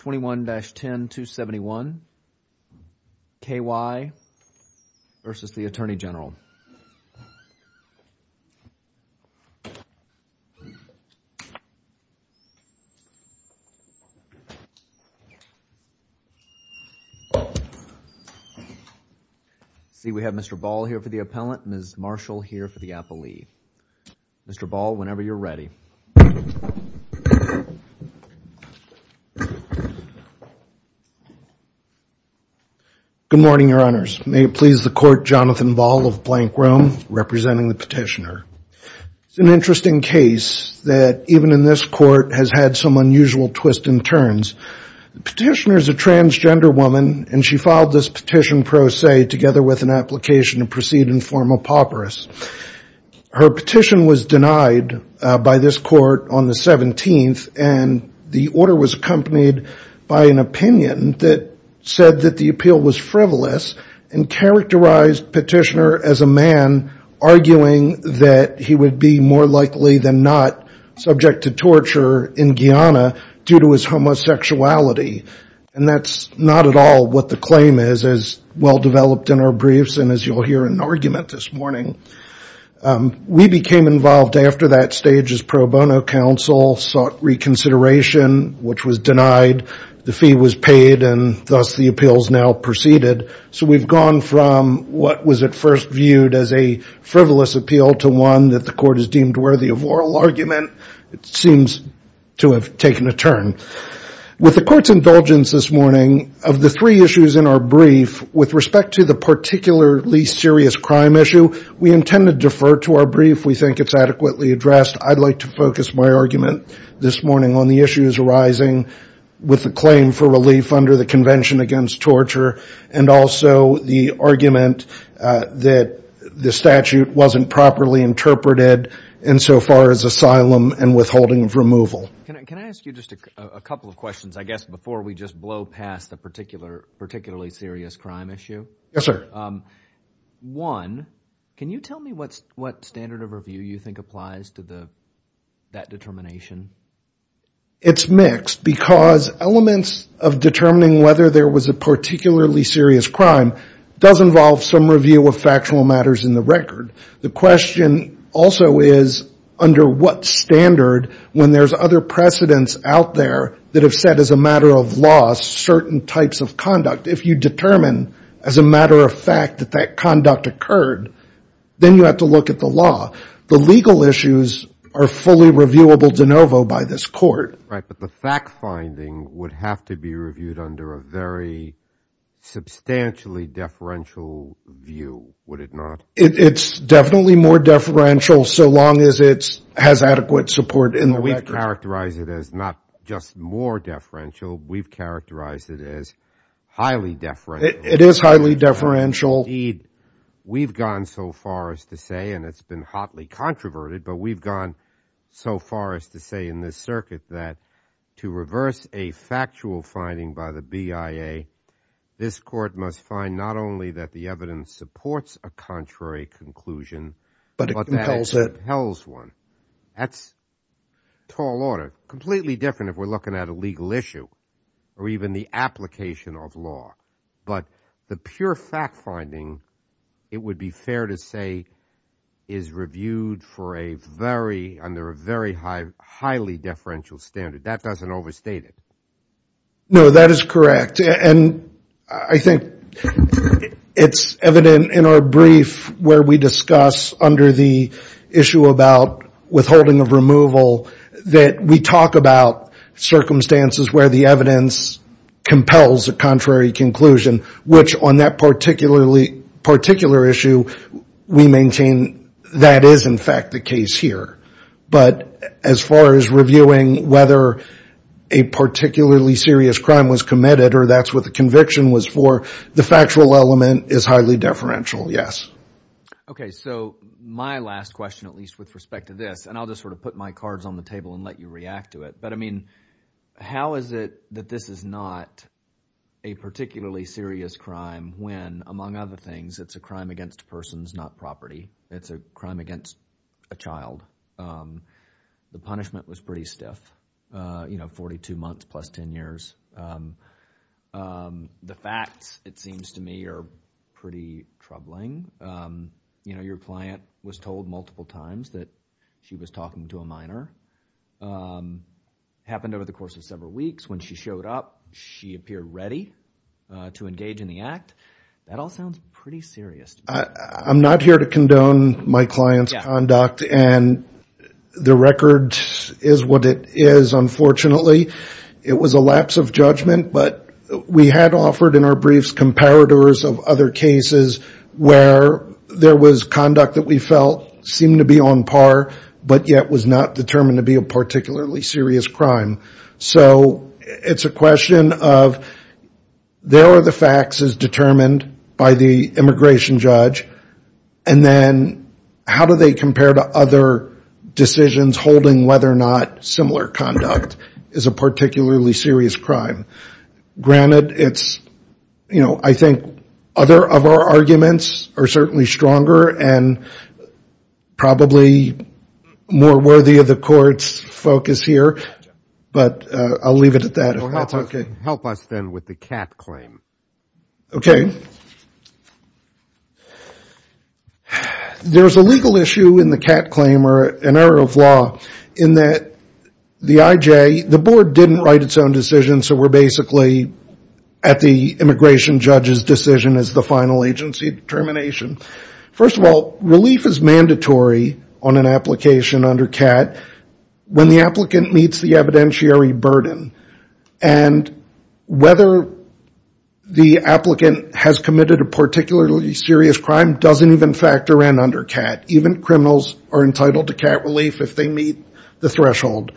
21-10-271 K.Y. v. U.S. Attorney General See we have Mr. Ball here for the appellant and Ms. Marshall here for the petitioner. Good morning, your honors. May it please the court, Jonathan Ball of Blank Room representing the petitioner. It's an interesting case that even in this court has had some unusual twists and turns. The petitioner is a transgender woman and she filed this petition pro se together with an application to proceed in formal paupers. Her petition was denied by this court on the 17th and the order was accompanied by an opinion that said that the appeal was frivolous and characterized petitioner as a man arguing that he would be more likely than not subject to torture in Guyana due to his homosexuality. And that's not at all what the claim is as well developed in our briefs and as you'll hear in We became involved after that stage as pro bono counsel, sought reconsideration which was denied. The fee was paid and thus the appeals now proceeded. So we've gone from what was at first viewed as a frivolous appeal to one that the court has deemed worthy of oral argument. It seems to have taken a turn. With the court's indulgence this morning, of the three issues in our We intend to defer to our brief. We think it's adequately addressed. I'd like to focus my argument this morning on the issues arising with the claim for relief under the convention against torture and also the argument that the statute wasn't properly interpreted insofar as asylum and withholding of removal. Can I ask you just a couple of questions I guess before we just blow past the particularly serious crime issue? Yes sir. One, can you tell me what standard of review you think applies to that determination? It's mixed because elements of determining whether there was a particularly serious crime does involve some review of factual matters in the record. The question also is under what standard when there's other precedents out there that have said as a matter of law certain types of conduct. If you determine as a matter of fact that that conduct occurred, then you have to look at the law. The legal issues are fully reviewable de novo by this court. Right, but the fact finding would have to be reviewed under a very substantially deferential view, would it not? It's definitely more deferential so long as it's adequate support in the record. We've characterized it as not just more deferential, we've characterized it as highly deferential. It is highly deferential. We've gone so far as to say, and it's been hotly controverted, but we've gone so far as to say in this circuit that to reverse a factual finding by the BIA, this court must find not only that the evidence supports a contrary conclusion, but that it compels one. That's tall order. Completely different if we're looking at a legal issue or even the application of law. But the pure fact finding, it would be fair to say, is reviewed for a very, under a very high, highly deferential standard. That doesn't overstate it. No, that is correct. I think it's evident in our brief where we discuss under the issue about withholding of removal that we talk about circumstances where the evidence compels a contrary conclusion, which on that particular issue, we maintain that is in fact the case here. But as far as reviewing whether a particularly serious crime was committed, that's what the conviction was for. The factual element is highly deferential, yes. Okay, so my last question, at least with respect to this, and I'll just sort of put my cards on the table and let you react to it, but I mean, how is it that this is not a particularly serious crime when, among other things, it's a crime against persons, not property. It's a crime against a child. The punishment was pretty stiff, you know, 42 months plus 10 years. The facts, it seems to me, are pretty troubling. You know, your client was told multiple times that she was talking to a minor. Happened over the course of several weeks. When she showed up, she appeared ready to engage in the act. That all sounds pretty serious. I'm not here to condone my client's conduct, and the record is what it is, unfortunately. It was a lapse of judgment, but we had offered in our briefs comparators of other cases where there was conduct that we felt seemed to be on par, but yet was not determined to be a particularly serious crime. So it's a question of, there are the facts as determined by the immigration judge, and then how do they compare to other decisions holding whether or not similar conduct is a particularly serious crime. Granted, it's, you know, I think other of our arguments are certainly stronger and probably more worthy of the court's focus here, but I'll leave it at that. Help us, then, with the Catt claim. Okay. There's a legal issue in the Catt claim, or an error of law, in that the IJ, the board didn't write its own decision, so we're basically at the immigration judge's decision as the final agency determination. First of all, relief is mandatory on an application under Catt when the applicant meets the evidentiary burden, and whether the applicant has committed a particularly serious crime doesn't even factor in under Catt. Even criminals are entitled to Catt relief if they meet the threshold.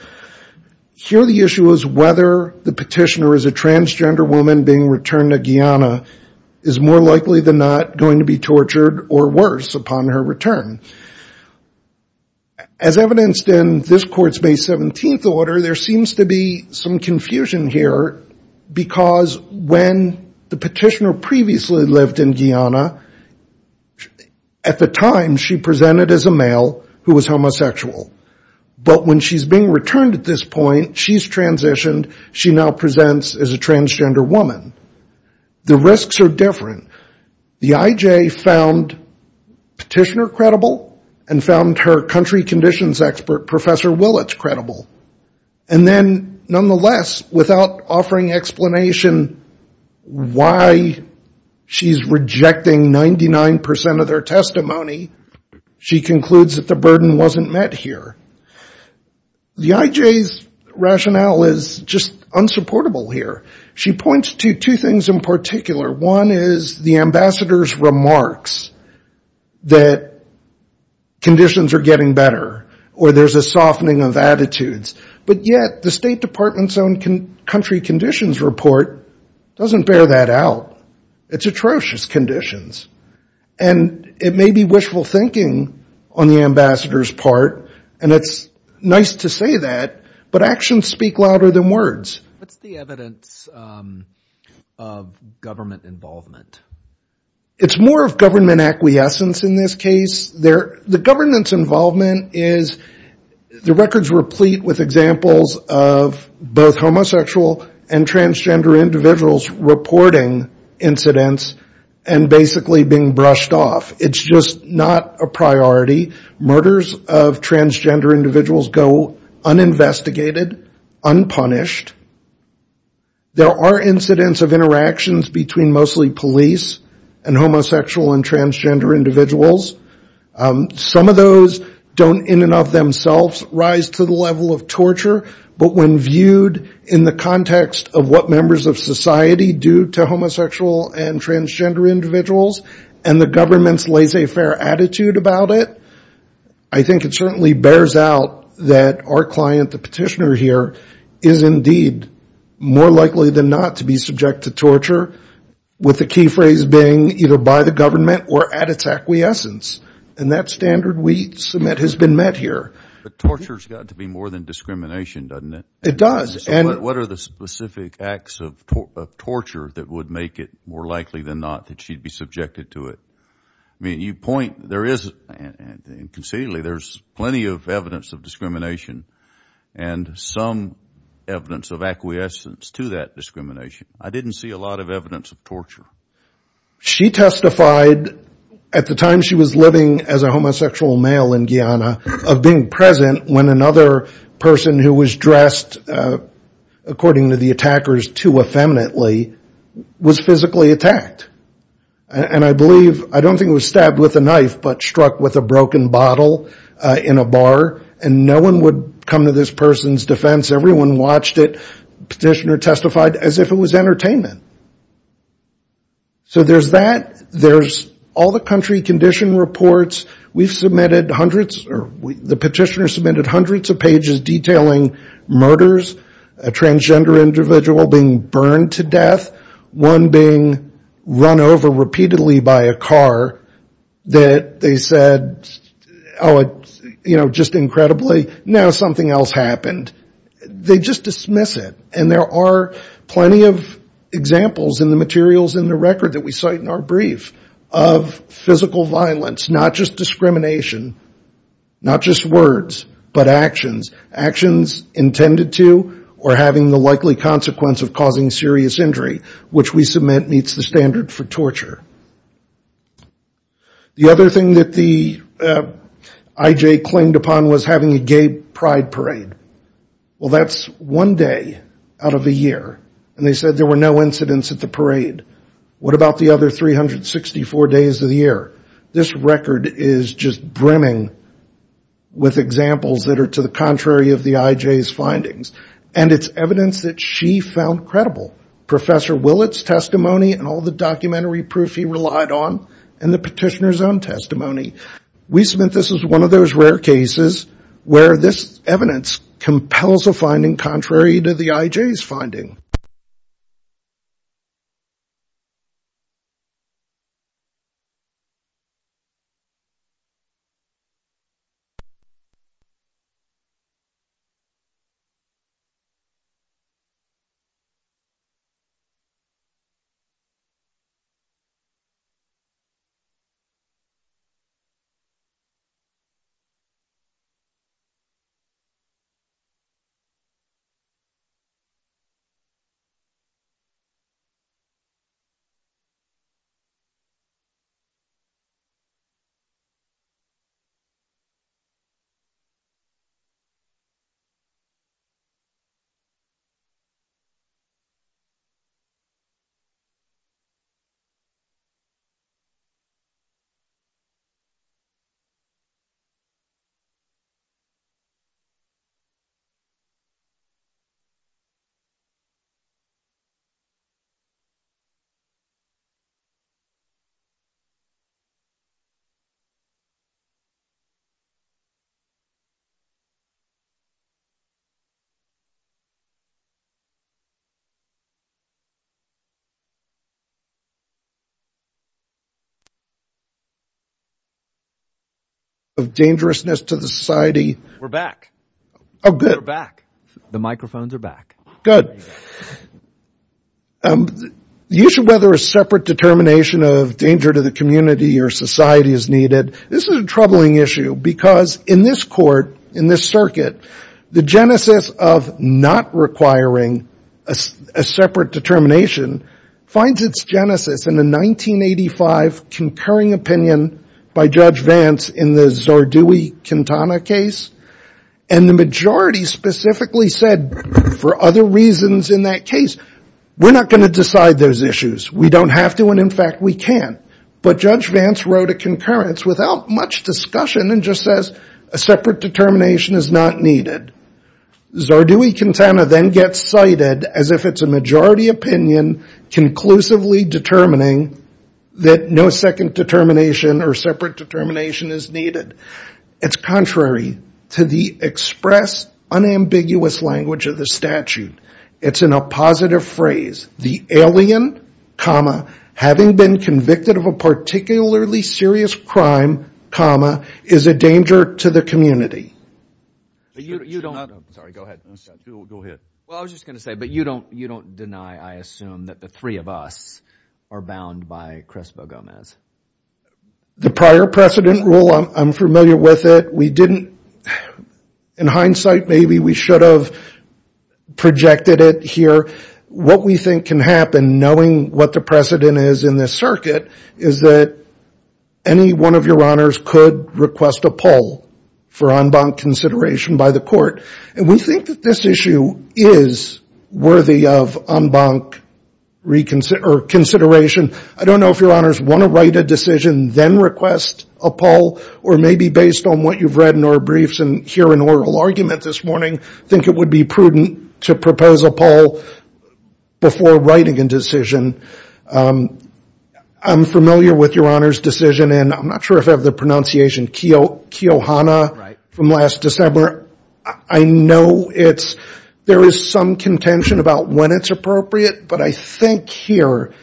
Here the issue is whether the petitioner is a transgender woman being returned to Guyana is more likely than not going to be tortured or worse upon her return. As evidenced in this court's May 17th order, there seems to be some confusion here because when the petitioner previously lived in Guyana, at the time she presented as a male who was homosexual, but when she's being returned at this point, she's transitioned, she now presents as a transgender woman. The risks are different. The IJ found petitioner credible, and found her country conditions expert, Professor Willits, credible. And then, nonetheless, without offering explanation why she's rejecting 99% of their testimony, she concludes that the burden wasn't met here. The IJ's rationale is just unsupportable here. She points to two things in particular. One is the ambassador's remarks that conditions are getting better, or there's a softening of attitudes. But yet, the State Department's own country conditions report doesn't bear that out. It's atrocious conditions. And it may be wishful thinking on the ambassador's part. And it's nice to say that, but actions speak louder than words. What's the evidence of government involvement? It's more of government acquiescence in this case. The government's involvement is the records replete with examples of both homosexual and transgender individuals reporting incidents and basically being brushed off. It's just not a priority. Murders of transgender individuals go uninvestigated, unpunished. There are incidents of interactions between mostly police and homosexual and transgender individuals. Some of those don't in and of themselves rise to the level of torture, but when viewed in the context of what members of society do to homosexual and transgender individuals and the government's laissez-faire attitude about it, I think it certainly bears out that our client, the petitioner here, is indeed more likely than not to be subject to torture, with the key phrase being either by the government or at its acquiescence. And that standard we submit has been met here. But torture's got to be more than discrimination, doesn't it? It does. What are the specific acts of torture that would make it more likely than not that she'd be subjected to it? I mean, you point, there is, and conceitedly, there's plenty of evidence of discrimination and some evidence of acquiescence to that discrimination. I didn't see a lot of evidence of torture. She testified at the time she was living as a homosexual male in Guyana of being present when another person who was dressed, according to the attackers, too effeminately, was physically attacked. And I believe, I don't think it was stabbed with a knife, but struck with a broken bottle in a bar, and no one would come to this person's defense. Everyone watched it. Petitioner testified as if it was entertainment. So there's that, there's all the country condition reports. We've submitted hundreds, or the petitioner submitted hundreds of pages detailing murders, a transgender individual being burned to death, one being run over repeatedly by a car that they said, oh, just incredibly, now something else happened. They just dismiss it. And there are plenty of examples in the materials in the record that we cite in our brief of physical violence, not just discrimination, not just words, but actions, actions intended to or having the likely consequence of causing serious injury, which we submit meets the standard for torture. The other thing that the IJ claimed upon was having a gay pride parade. Well, that's one day out of the year, and they said there were no incidents at the parade. What about the other 364 days of the year? This record is just brimming with examples that are to the contrary of the IJ's findings, and it's evidence that she found credible. Professor Willett's testimony and all the documentary proof he relied on, and the petitioner's own testimony. We submit this as one of those rare cases where this evidence compels a finding that is to the contrary to the IJ's finding. Thank you. We're back. We're back. The microphones are back. Good. The issue whether a separate determination of danger to the community or society is needed. This is a troubling issue because in this court, in this circuit, the genesis of not requiring a separate determination finds its genesis in the 1985 concurring opinion by Judge Vance in the Zardoui-Quintana case, and the majority specifically said for other reasons in that case, we're not going to decide those issues. We don't have to, and in fact, we can't. But Judge Vance wrote a concurrence without much discussion and just says a separate determination is not needed. Zardoui-Quintana then gets cited as if it's a majority opinion conclusively determining that no second determination or separate determination is needed. It's contrary to the express, unambiguous language of the statute. It's in a positive phrase. The alien, having been convicted of a particularly serious crime, is a danger to the community. You don't, sorry, go ahead. Go ahead. Well, I was just going to say, but you don't deny, I assume, that the three of us are bound by Crespo-Gomez. The prior precedent rule, I'm familiar with it. We didn't, in hindsight, maybe we should have projected it here. What we think can happen, knowing what the precedent is in this circuit, is that any one of your honors could request a poll for en banc consideration by the court. And we think that this issue is worthy of en banc consideration. I don't know if your honors want to write a decision, then request a poll, or maybe based on what you've read in our briefs and hear an oral argument this morning, think it would be prudent to propose a poll before writing a decision. I'm familiar with your honors' decision, and I'm not sure if I have the pronunciation, Keohana, from last December. I know it's, there is some contention about when it's appropriate, but I think here,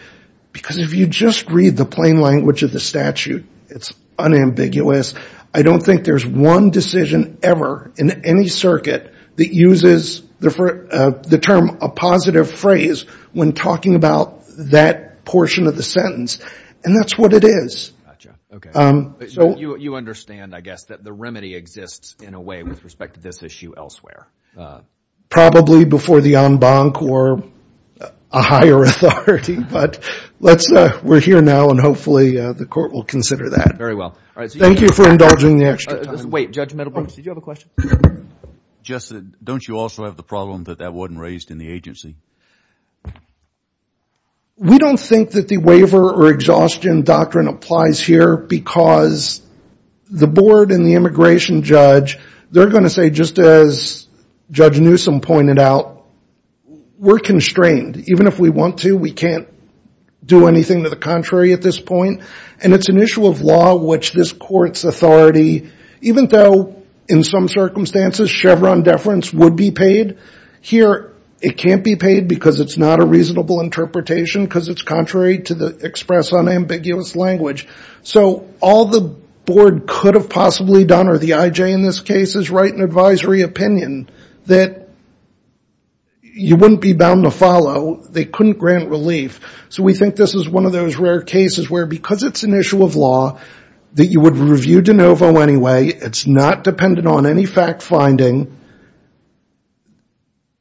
because if you just read the plain language of the statute, it's unambiguous. I don't think there's one decision ever in any circuit that uses the term a positive phrase when talking about that portion of the sentence, and that's what it is. You understand, I guess, that the remedy exists in a way with respect to this issue elsewhere. Probably before the en banc or a higher authority, but we're here now, and hopefully the court will consider that. Very well. Thank you for indulging me. Wait, Judge Middlebrooks, did you have a question? Justin, don't you also have the problem that that wasn't raised in the agency? We don't think that the waiver or exhaustion doctrine applies here because the board and the immigration judge, they're going to say, just as Judge Newsom pointed out, we're constrained. Even if we want to, we can't do anything to the contrary at this point, and it's an issue of law which this court's authority, even though in some circumstances, Chevron deference would be paid. Here, it can't be paid because it's not a reasonable interpretation because it's contrary to the express unambiguous language. So all the board could have possibly done, or the IJ in this case, is write an advisory opinion that you wouldn't be bound to follow. They couldn't grant relief. So we think this is one of those rare cases where because it's an issue of law, that you would review de novo anyway, it's not dependent on any fact finding,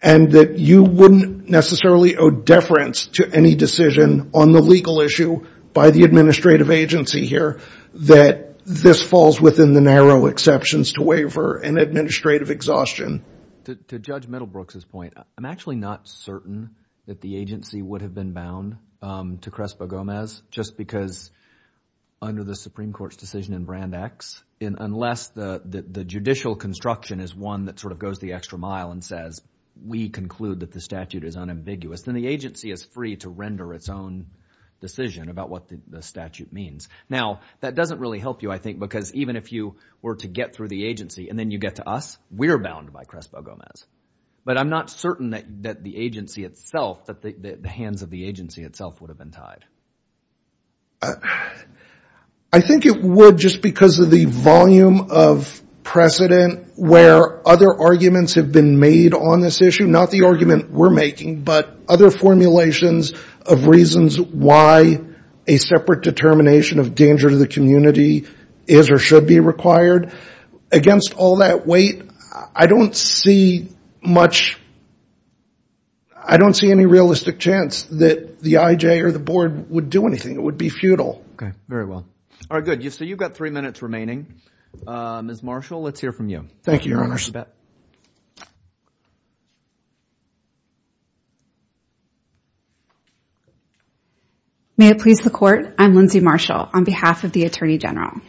and that you wouldn't necessarily owe deference to any decision on the legal issue by the administrative agency here, that this falls within the narrow exceptions to waiver and administrative exhaustion. To Judge Middlebrooks' point, I'm actually not certain that the agency would have been bound to Crespo-Gomez just because under the Supreme Court's decision in Brand X, unless the judicial construction is one that sort of goes the extra mile and says we conclude that the statute is unambiguous, then the agency is free to render its own decision about what the statute means. Now, that doesn't really help you, I think, because even if you were to get through the agency and then you get to us, we're bound by Crespo-Gomez. But I'm not certain that the agency itself, that the hands of the agency itself would have been tied. I think it would just because of the volume of precedent where other arguments have been made on this issue, not the argument we're making, but other formulations of reasons why a separate determination of danger to the community is or should be required against all that weight. I don't see much, I don't see any realistic chance that the IJ or the board would do anything. It would be futile. Okay, very well. All right, good. So you've got three minutes remaining. Ms. Marshall, let's hear from you. Thank you, Your Honor. I'll let you bet. May it please the Court. I'm Lindsay Marshall on behalf of the Attorney General.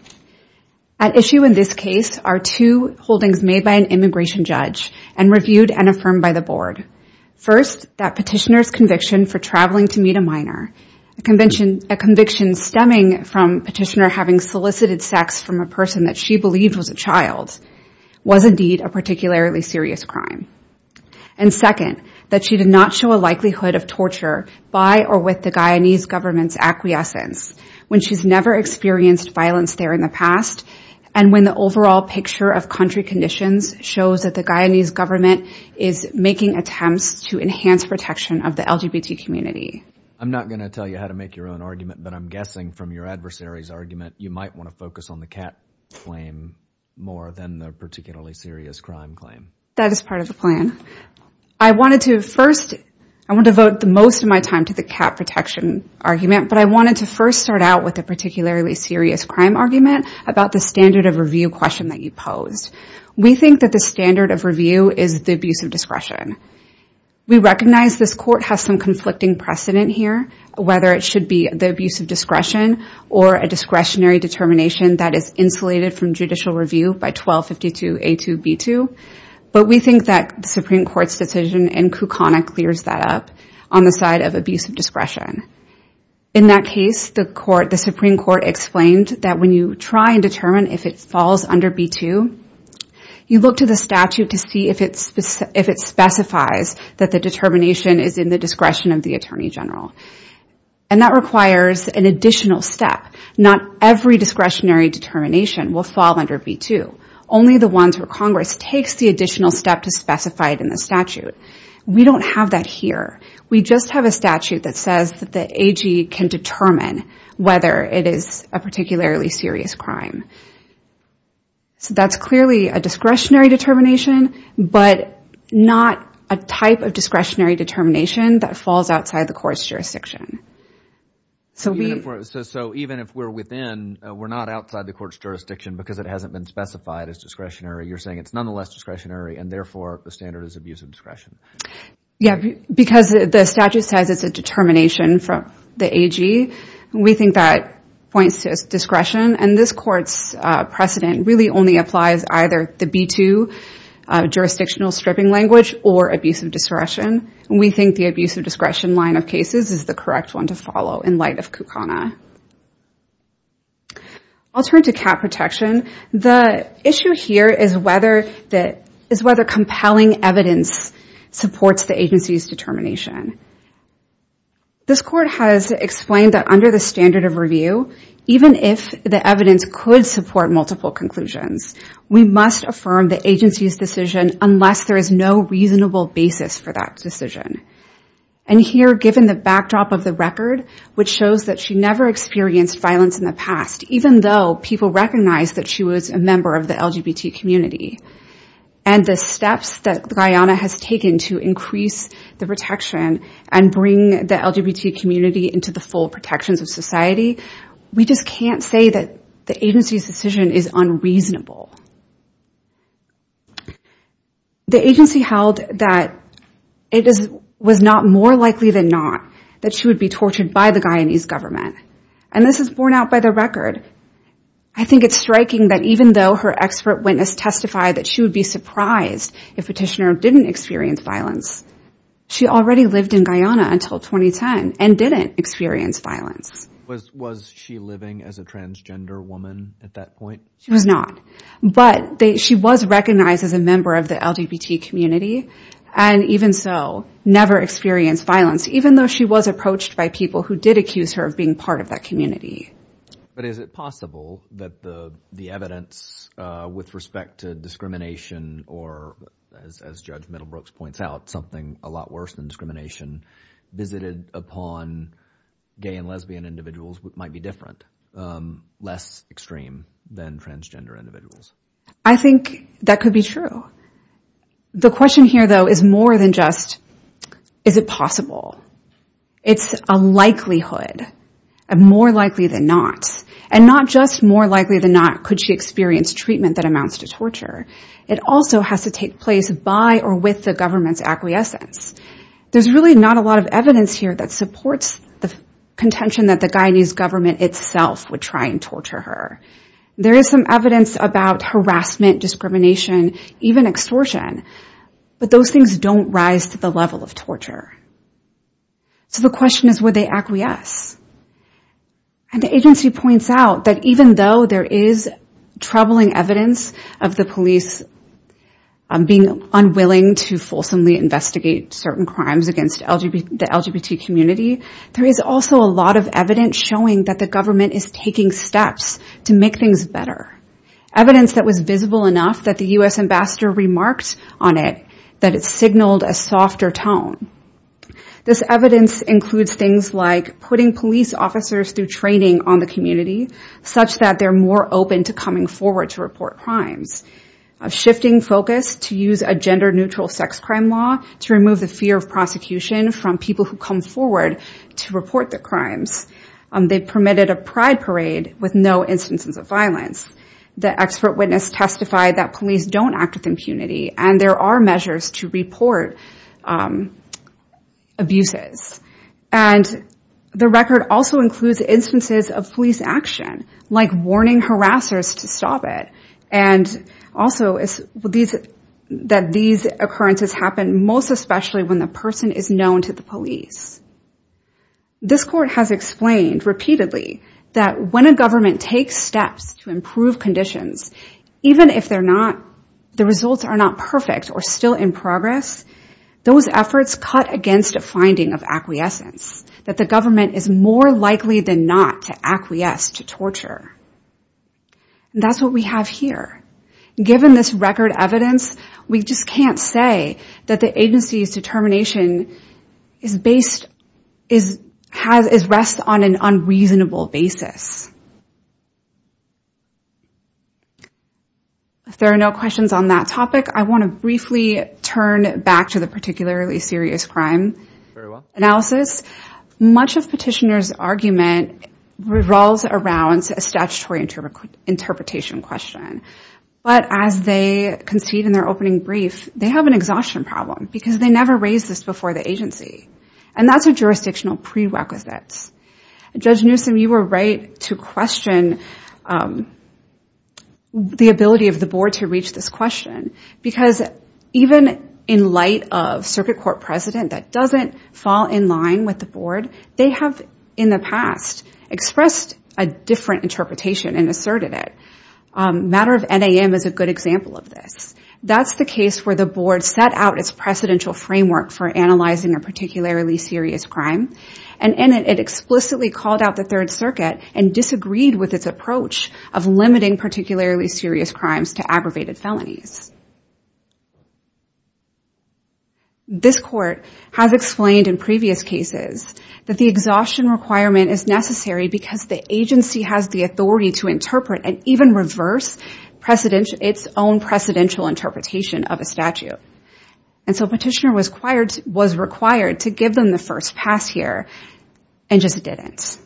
At issue in this case are two holdings made by an immigration judge and reviewed and affirmed by the board. First, that petitioner's conviction for traveling to meet a minor, a conviction stemming from petitioner having solicited sex from a person that she believed was a child, was indeed a particularly serious crime. And second, that she did not show a likelihood of torture by or with the Guyanese government's acquiescence when she's never experienced violence there in the past and when the overall picture of country conditions shows that the Guyanese government is making attempts to enhance protection of the LGBT community. I'm not going to tell you how to make your own argument, but I'm guessing from your adversary's argument you might want to focus on the cat claim more than the particularly serious crime claim. That is part of the plan. I wanted to first, I want to devote the most of my time to the cat protection argument, but I wanted to first start out with a particularly serious crime argument about the standard of review question that you posed. We think that the standard of review is the abuse of discretion. We recognize this court has some conflicting precedent here, whether it should be the abuse of discretion or a discretionary determination that is insulated from judicial review by 1252A2B2, but we think that the Supreme Court's decision in Kukana clears that up on the side of abuse of discretion. In that case, the Supreme Court explained that when you try and determine if it falls under B2, you look to the statute to see if it specifies that the determination is in the discretion of the Attorney General, and that requires an additional step. Not every discretionary determination will fall under B2. Only the ones where Congress takes the additional step to specify it in the statute. We don't have that here. We just have a statute that says that the AG can determine whether it is a particularly serious crime. So that's clearly a discretionary determination, but not a type of discretionary determination that falls outside the court's jurisdiction. So even if we're within, we're not outside the court's jurisdiction because it hasn't been specified as discretionary. You're saying it's nonetheless discretionary, and therefore, the standard is abuse of discretion. Yeah, because the statute says it's a determination from the AG. We think that points to discretion, and this court's precedent really only applies either the B2 jurisdictional stripping language or abuse of discretion. We think the abuse of discretion line of cases is the correct one to follow in light of Kukana. I'll turn to cap protection. The issue here is whether compelling evidence supports the agency's determination. This court has explained that under the standard of review, even if the evidence could support multiple conclusions, we must affirm the agency's decision unless there is no reasonable basis for that decision. And here, given the backdrop of the record, which shows that she never experienced violence in the past, even though people recognize that she was a member of the LGBT community, and the steps that Guyana has taken to increase the protection and bring the LGBT community into the full protections of society, we just can't say that the agency's decision is unreasonable. The agency held that it was not more likely than not that she would be tortured by the Guyanese government, and this is borne out by the record. I think it's striking that even though her expert witness testified that she would be surprised if Petitioner didn't experience violence, she already lived in Guyana until 2010 and didn't experience violence. Was she living as a transgender woman at that point? She was not, but she was recognized as a member of the LGBT community and even so never experienced violence, even though she was approached by people who did accuse her of being part of that community. But is it possible that the evidence with respect to discrimination or, as Judge Middlebrooks points out, something a lot worse than discrimination visited upon gay and lesbian individuals might be different, less extreme than transgender individuals? I think that could be true. The question here, though, is more than just is it possible. It's a likelihood, a more likely than not, and not just more likely than not could she experience treatment that amounts to torture. It also has to take place by or with the government's acquiescence. There's really not a lot of evidence here that supports the contention that the Guyanese government itself would try and torture her. There is some evidence about harassment, discrimination, even extortion, but those things don't rise to the level of torture. So the question is would they acquiesce? And the agency points out that even though there is troubling evidence of the police being unwilling to fulsomely investigate certain crimes against the LGBT community, there is also a lot of evidence showing that the government is taking steps to make things better, evidence that was visible enough that the U.S. ambassador remarked on it that it signaled a softer tone. This evidence includes things like putting police officers through training on the community such that they're more open to coming forward to report crimes, shifting focus to use a gender-neutral sex crime law to remove the fear of prosecution from people who come forward to report the crimes. They permitted a pride parade with no instances of violence. The expert witness testified that police don't act with impunity, and there are measures to report abuses. And the record also includes instances of police action like warning harassers to stop it and also that these occurrences happen most especially when the person is known to the police. This court has explained repeatedly that when a government takes steps to improve conditions, even if the results are not perfect or still in progress, those efforts cut against a finding of acquiescence, that the government is more likely than not to acquiesce to torture. And that's what we have here. Given this record evidence, we just can't say that the agency's determination is based on an unreasonable basis. If there are no questions on that topic, I want to briefly turn back to the particularly serious crime analysis. Much of Petitioner's argument revolves around a statutory interpretation question. But as they concede in their opening brief, they have an exhaustion problem because they never raised this before the agency. And that's a jurisdictional prerequisite. Judge Newsom, you were right to question the ability of the board to reach this question because even in light of circuit court precedent that doesn't fall in line with the board, they have in the past expressed a different interpretation and asserted it. Matter of NAM is a good example of this. That's the case where the board set out its precedential framework for analyzing a particularly serious crime. And in it, it explicitly called out the Third Circuit and disagreed with its approach of limiting particularly serious crimes to aggravated felonies. This court has explained in previous cases that the exhaustion requirement is necessary because the agency has the authority to interpret and even reverse its own precedential interpretation of a statute. And so Petitioner was required to give them the first pass here and just didn't.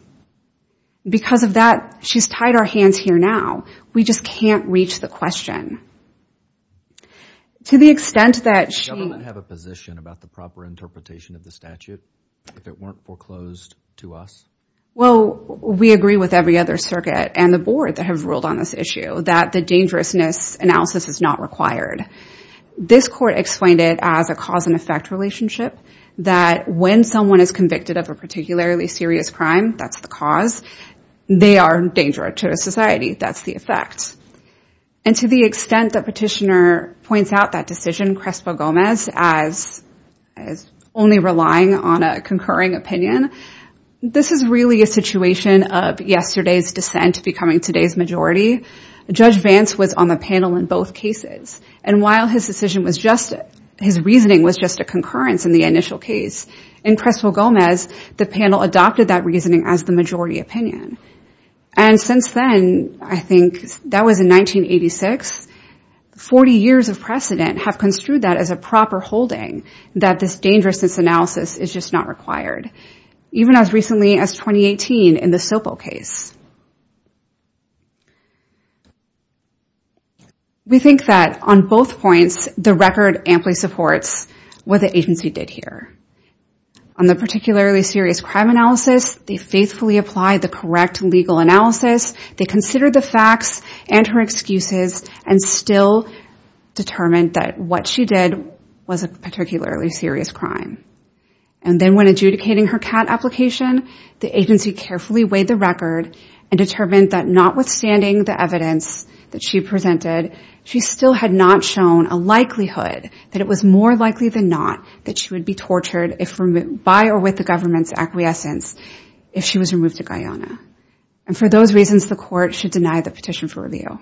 Because of that, she's tied our hands here now. We just can't reach the question. To the extent that she... Does the government have a position about the proper interpretation of the statute if it weren't foreclosed to us? Well, we agree with every other circuit and the board that have ruled on this issue that the dangerousness analysis is not required. This court explained it as a cause and effect relationship that when someone is convicted of a particularly serious crime, that's the cause, they are dangerous to society. That's the effect. And to the extent that Petitioner points out that decision, Crespo-Gomez, as only relying on a concurring opinion, this is really a situation of yesterday's dissent becoming today's majority. Judge Vance was on the panel in both cases. And while his reasoning was just a concurrence in the initial case, in Crespo-Gomez, the panel adopted that reasoning as the majority opinion. And since then, I think that was in 1986, 40 years of precedent have construed that as a proper holding, that this dangerousness analysis is just not required. Even as recently as 2018 in the Sopo case. We think that on both points, the record amply supports what the agency did here. On the particularly serious crime analysis, they faithfully applied the correct legal analysis. They considered the facts and her excuses and still determined that what she did was a particularly serious crime. And then when adjudicating her CAT application, the agency carefully weighed the record and determined that notwithstanding the evidence that she presented, she still had not shown a likelihood that it was more likely than not that she would be tortured by or with the government's acquiescence if she was removed to Guyana. And for those reasons, the court should deny the petition for review.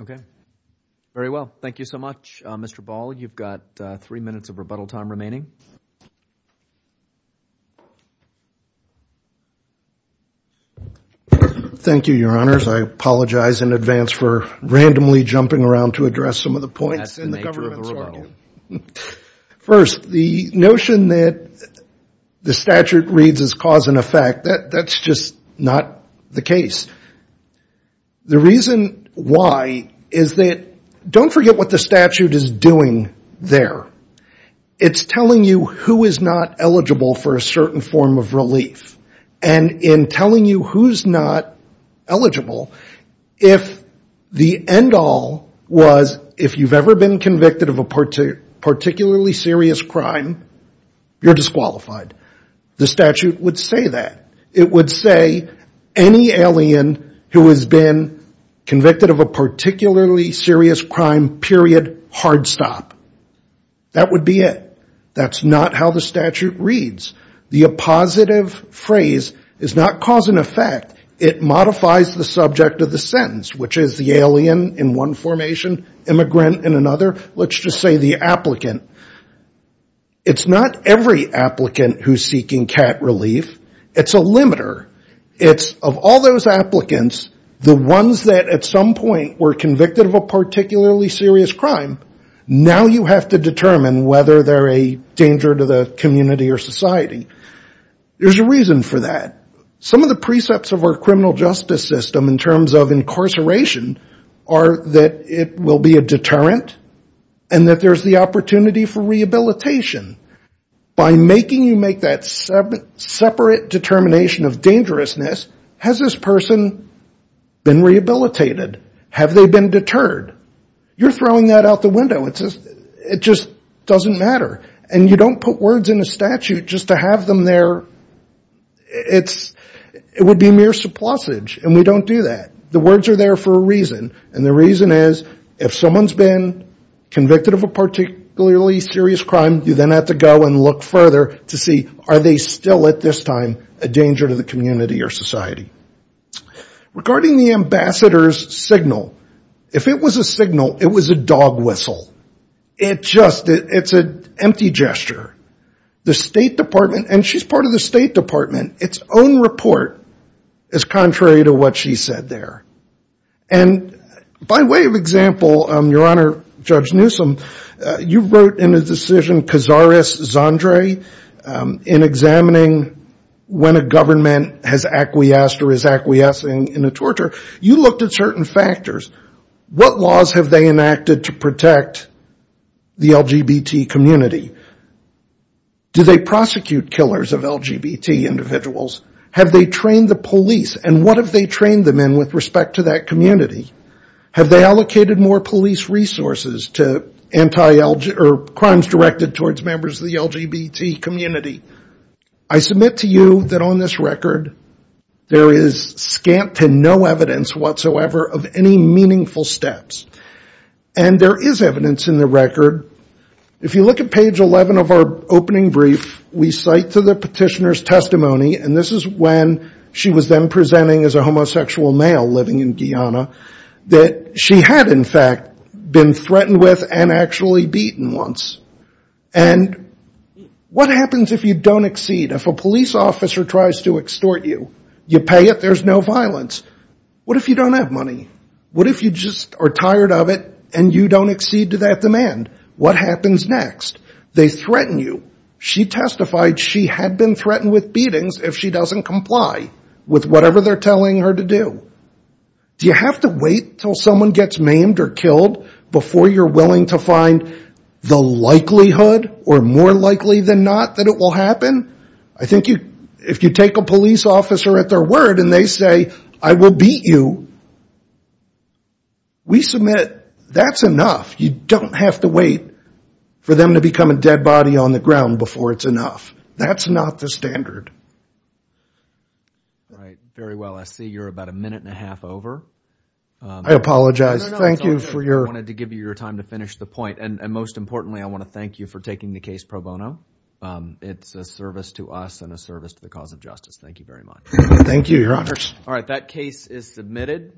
Okay. Very well. Thank you so much, Mr. Ball. You've got three minutes of rebuttal time remaining. Thank you, Your Honors. I apologize in advance for randomly jumping around to address some of the points in the government's argument. First, the notion that the statute reads as cause and effect, that's just not the case. The reason why is that don't forget what the statute is doing there. It's telling you who is not eligible for a certain form of relief. And in telling you who's not eligible, if the end all was if you've ever been convicted of a particularly serious crime, you're disqualified. The statute would say that. It would say any alien who has been convicted of a particularly serious crime, period, hard stop. That would be it. That's not how the statute reads. The appositive phrase is not cause and effect. It modifies the subject of the sentence, which is the alien in one formation, immigrant in another. Let's just say the applicant. It's not every applicant who's seeking CAT relief. It's a limiter. It's of all those applicants, the ones that at some point were convicted of a particularly serious crime, now you have to determine whether they're a danger to the community or society. There's a reason for that. Some of the precepts of our criminal justice system in terms of incarceration are that it will be a deterrent and that there's the opportunity for rehabilitation. By making you make that separate determination of dangerousness, has this person been rehabilitated? Have they been deterred? You're throwing that out the window. It just doesn't matter. And you don't put words in a statute just to have them there. It would be mere surplusage, and we don't do that. The words are there for a reason, and the reason is if someone's been convicted of a particularly serious crime, you then have to go and look further to see are they still at this time a danger to the community or society. Regarding the ambassador's signal, if it was a signal, it was a dog whistle. It's an empty gesture. The State Department, and she's part of the State Department, its own report is contrary to what she said there. And by way of example, Your Honor, Judge Newsom, you wrote in a decision, Cazares-Zandre, in examining when a government has acquiesced or is acquiescing in a torture, you looked at certain factors. What laws have they enacted to protect the LGBT community? Do they prosecute killers of LGBT individuals? Have they trained the police? And what have they trained them in with respect to that community? Have they allocated more police resources to crimes directed towards members of the LGBT community? I submit to you that on this record, there is scant to no evidence whatsoever of any meaningful steps. And there is evidence in the record. If you look at page 11 of our opening brief, we cite to the petitioner's testimony, and this is when she was then presenting as a homosexual male living in Guyana, that she had, in fact, been threatened with and actually beaten once. And what happens if you don't accede? If a police officer tries to extort you, you pay it, there's no violence. What if you don't have money? What if you just are tired of it and you don't accede to that demand? What happens next? They threaten you. She testified she had been threatened with beatings if she doesn't comply with whatever they're telling her to do. Do you have to wait until someone gets maimed or killed before you're willing to find the likelihood or more likely than not that it will happen? I think if you take a police officer at their word and they say, I will beat you, we submit that's enough. You don't have to wait for them to become a dead body on the ground before it's enough. That's not the standard. All right, very well. I see you're about a minute and a half over. I apologize. Thank you for your— I wanted to give you your time to finish the point. And most importantly, I want to thank you for taking the case pro bono. It's a service to us and a service to the cause of justice. Thank you very much. Thank you, Your Honors. All right, that case is submitted.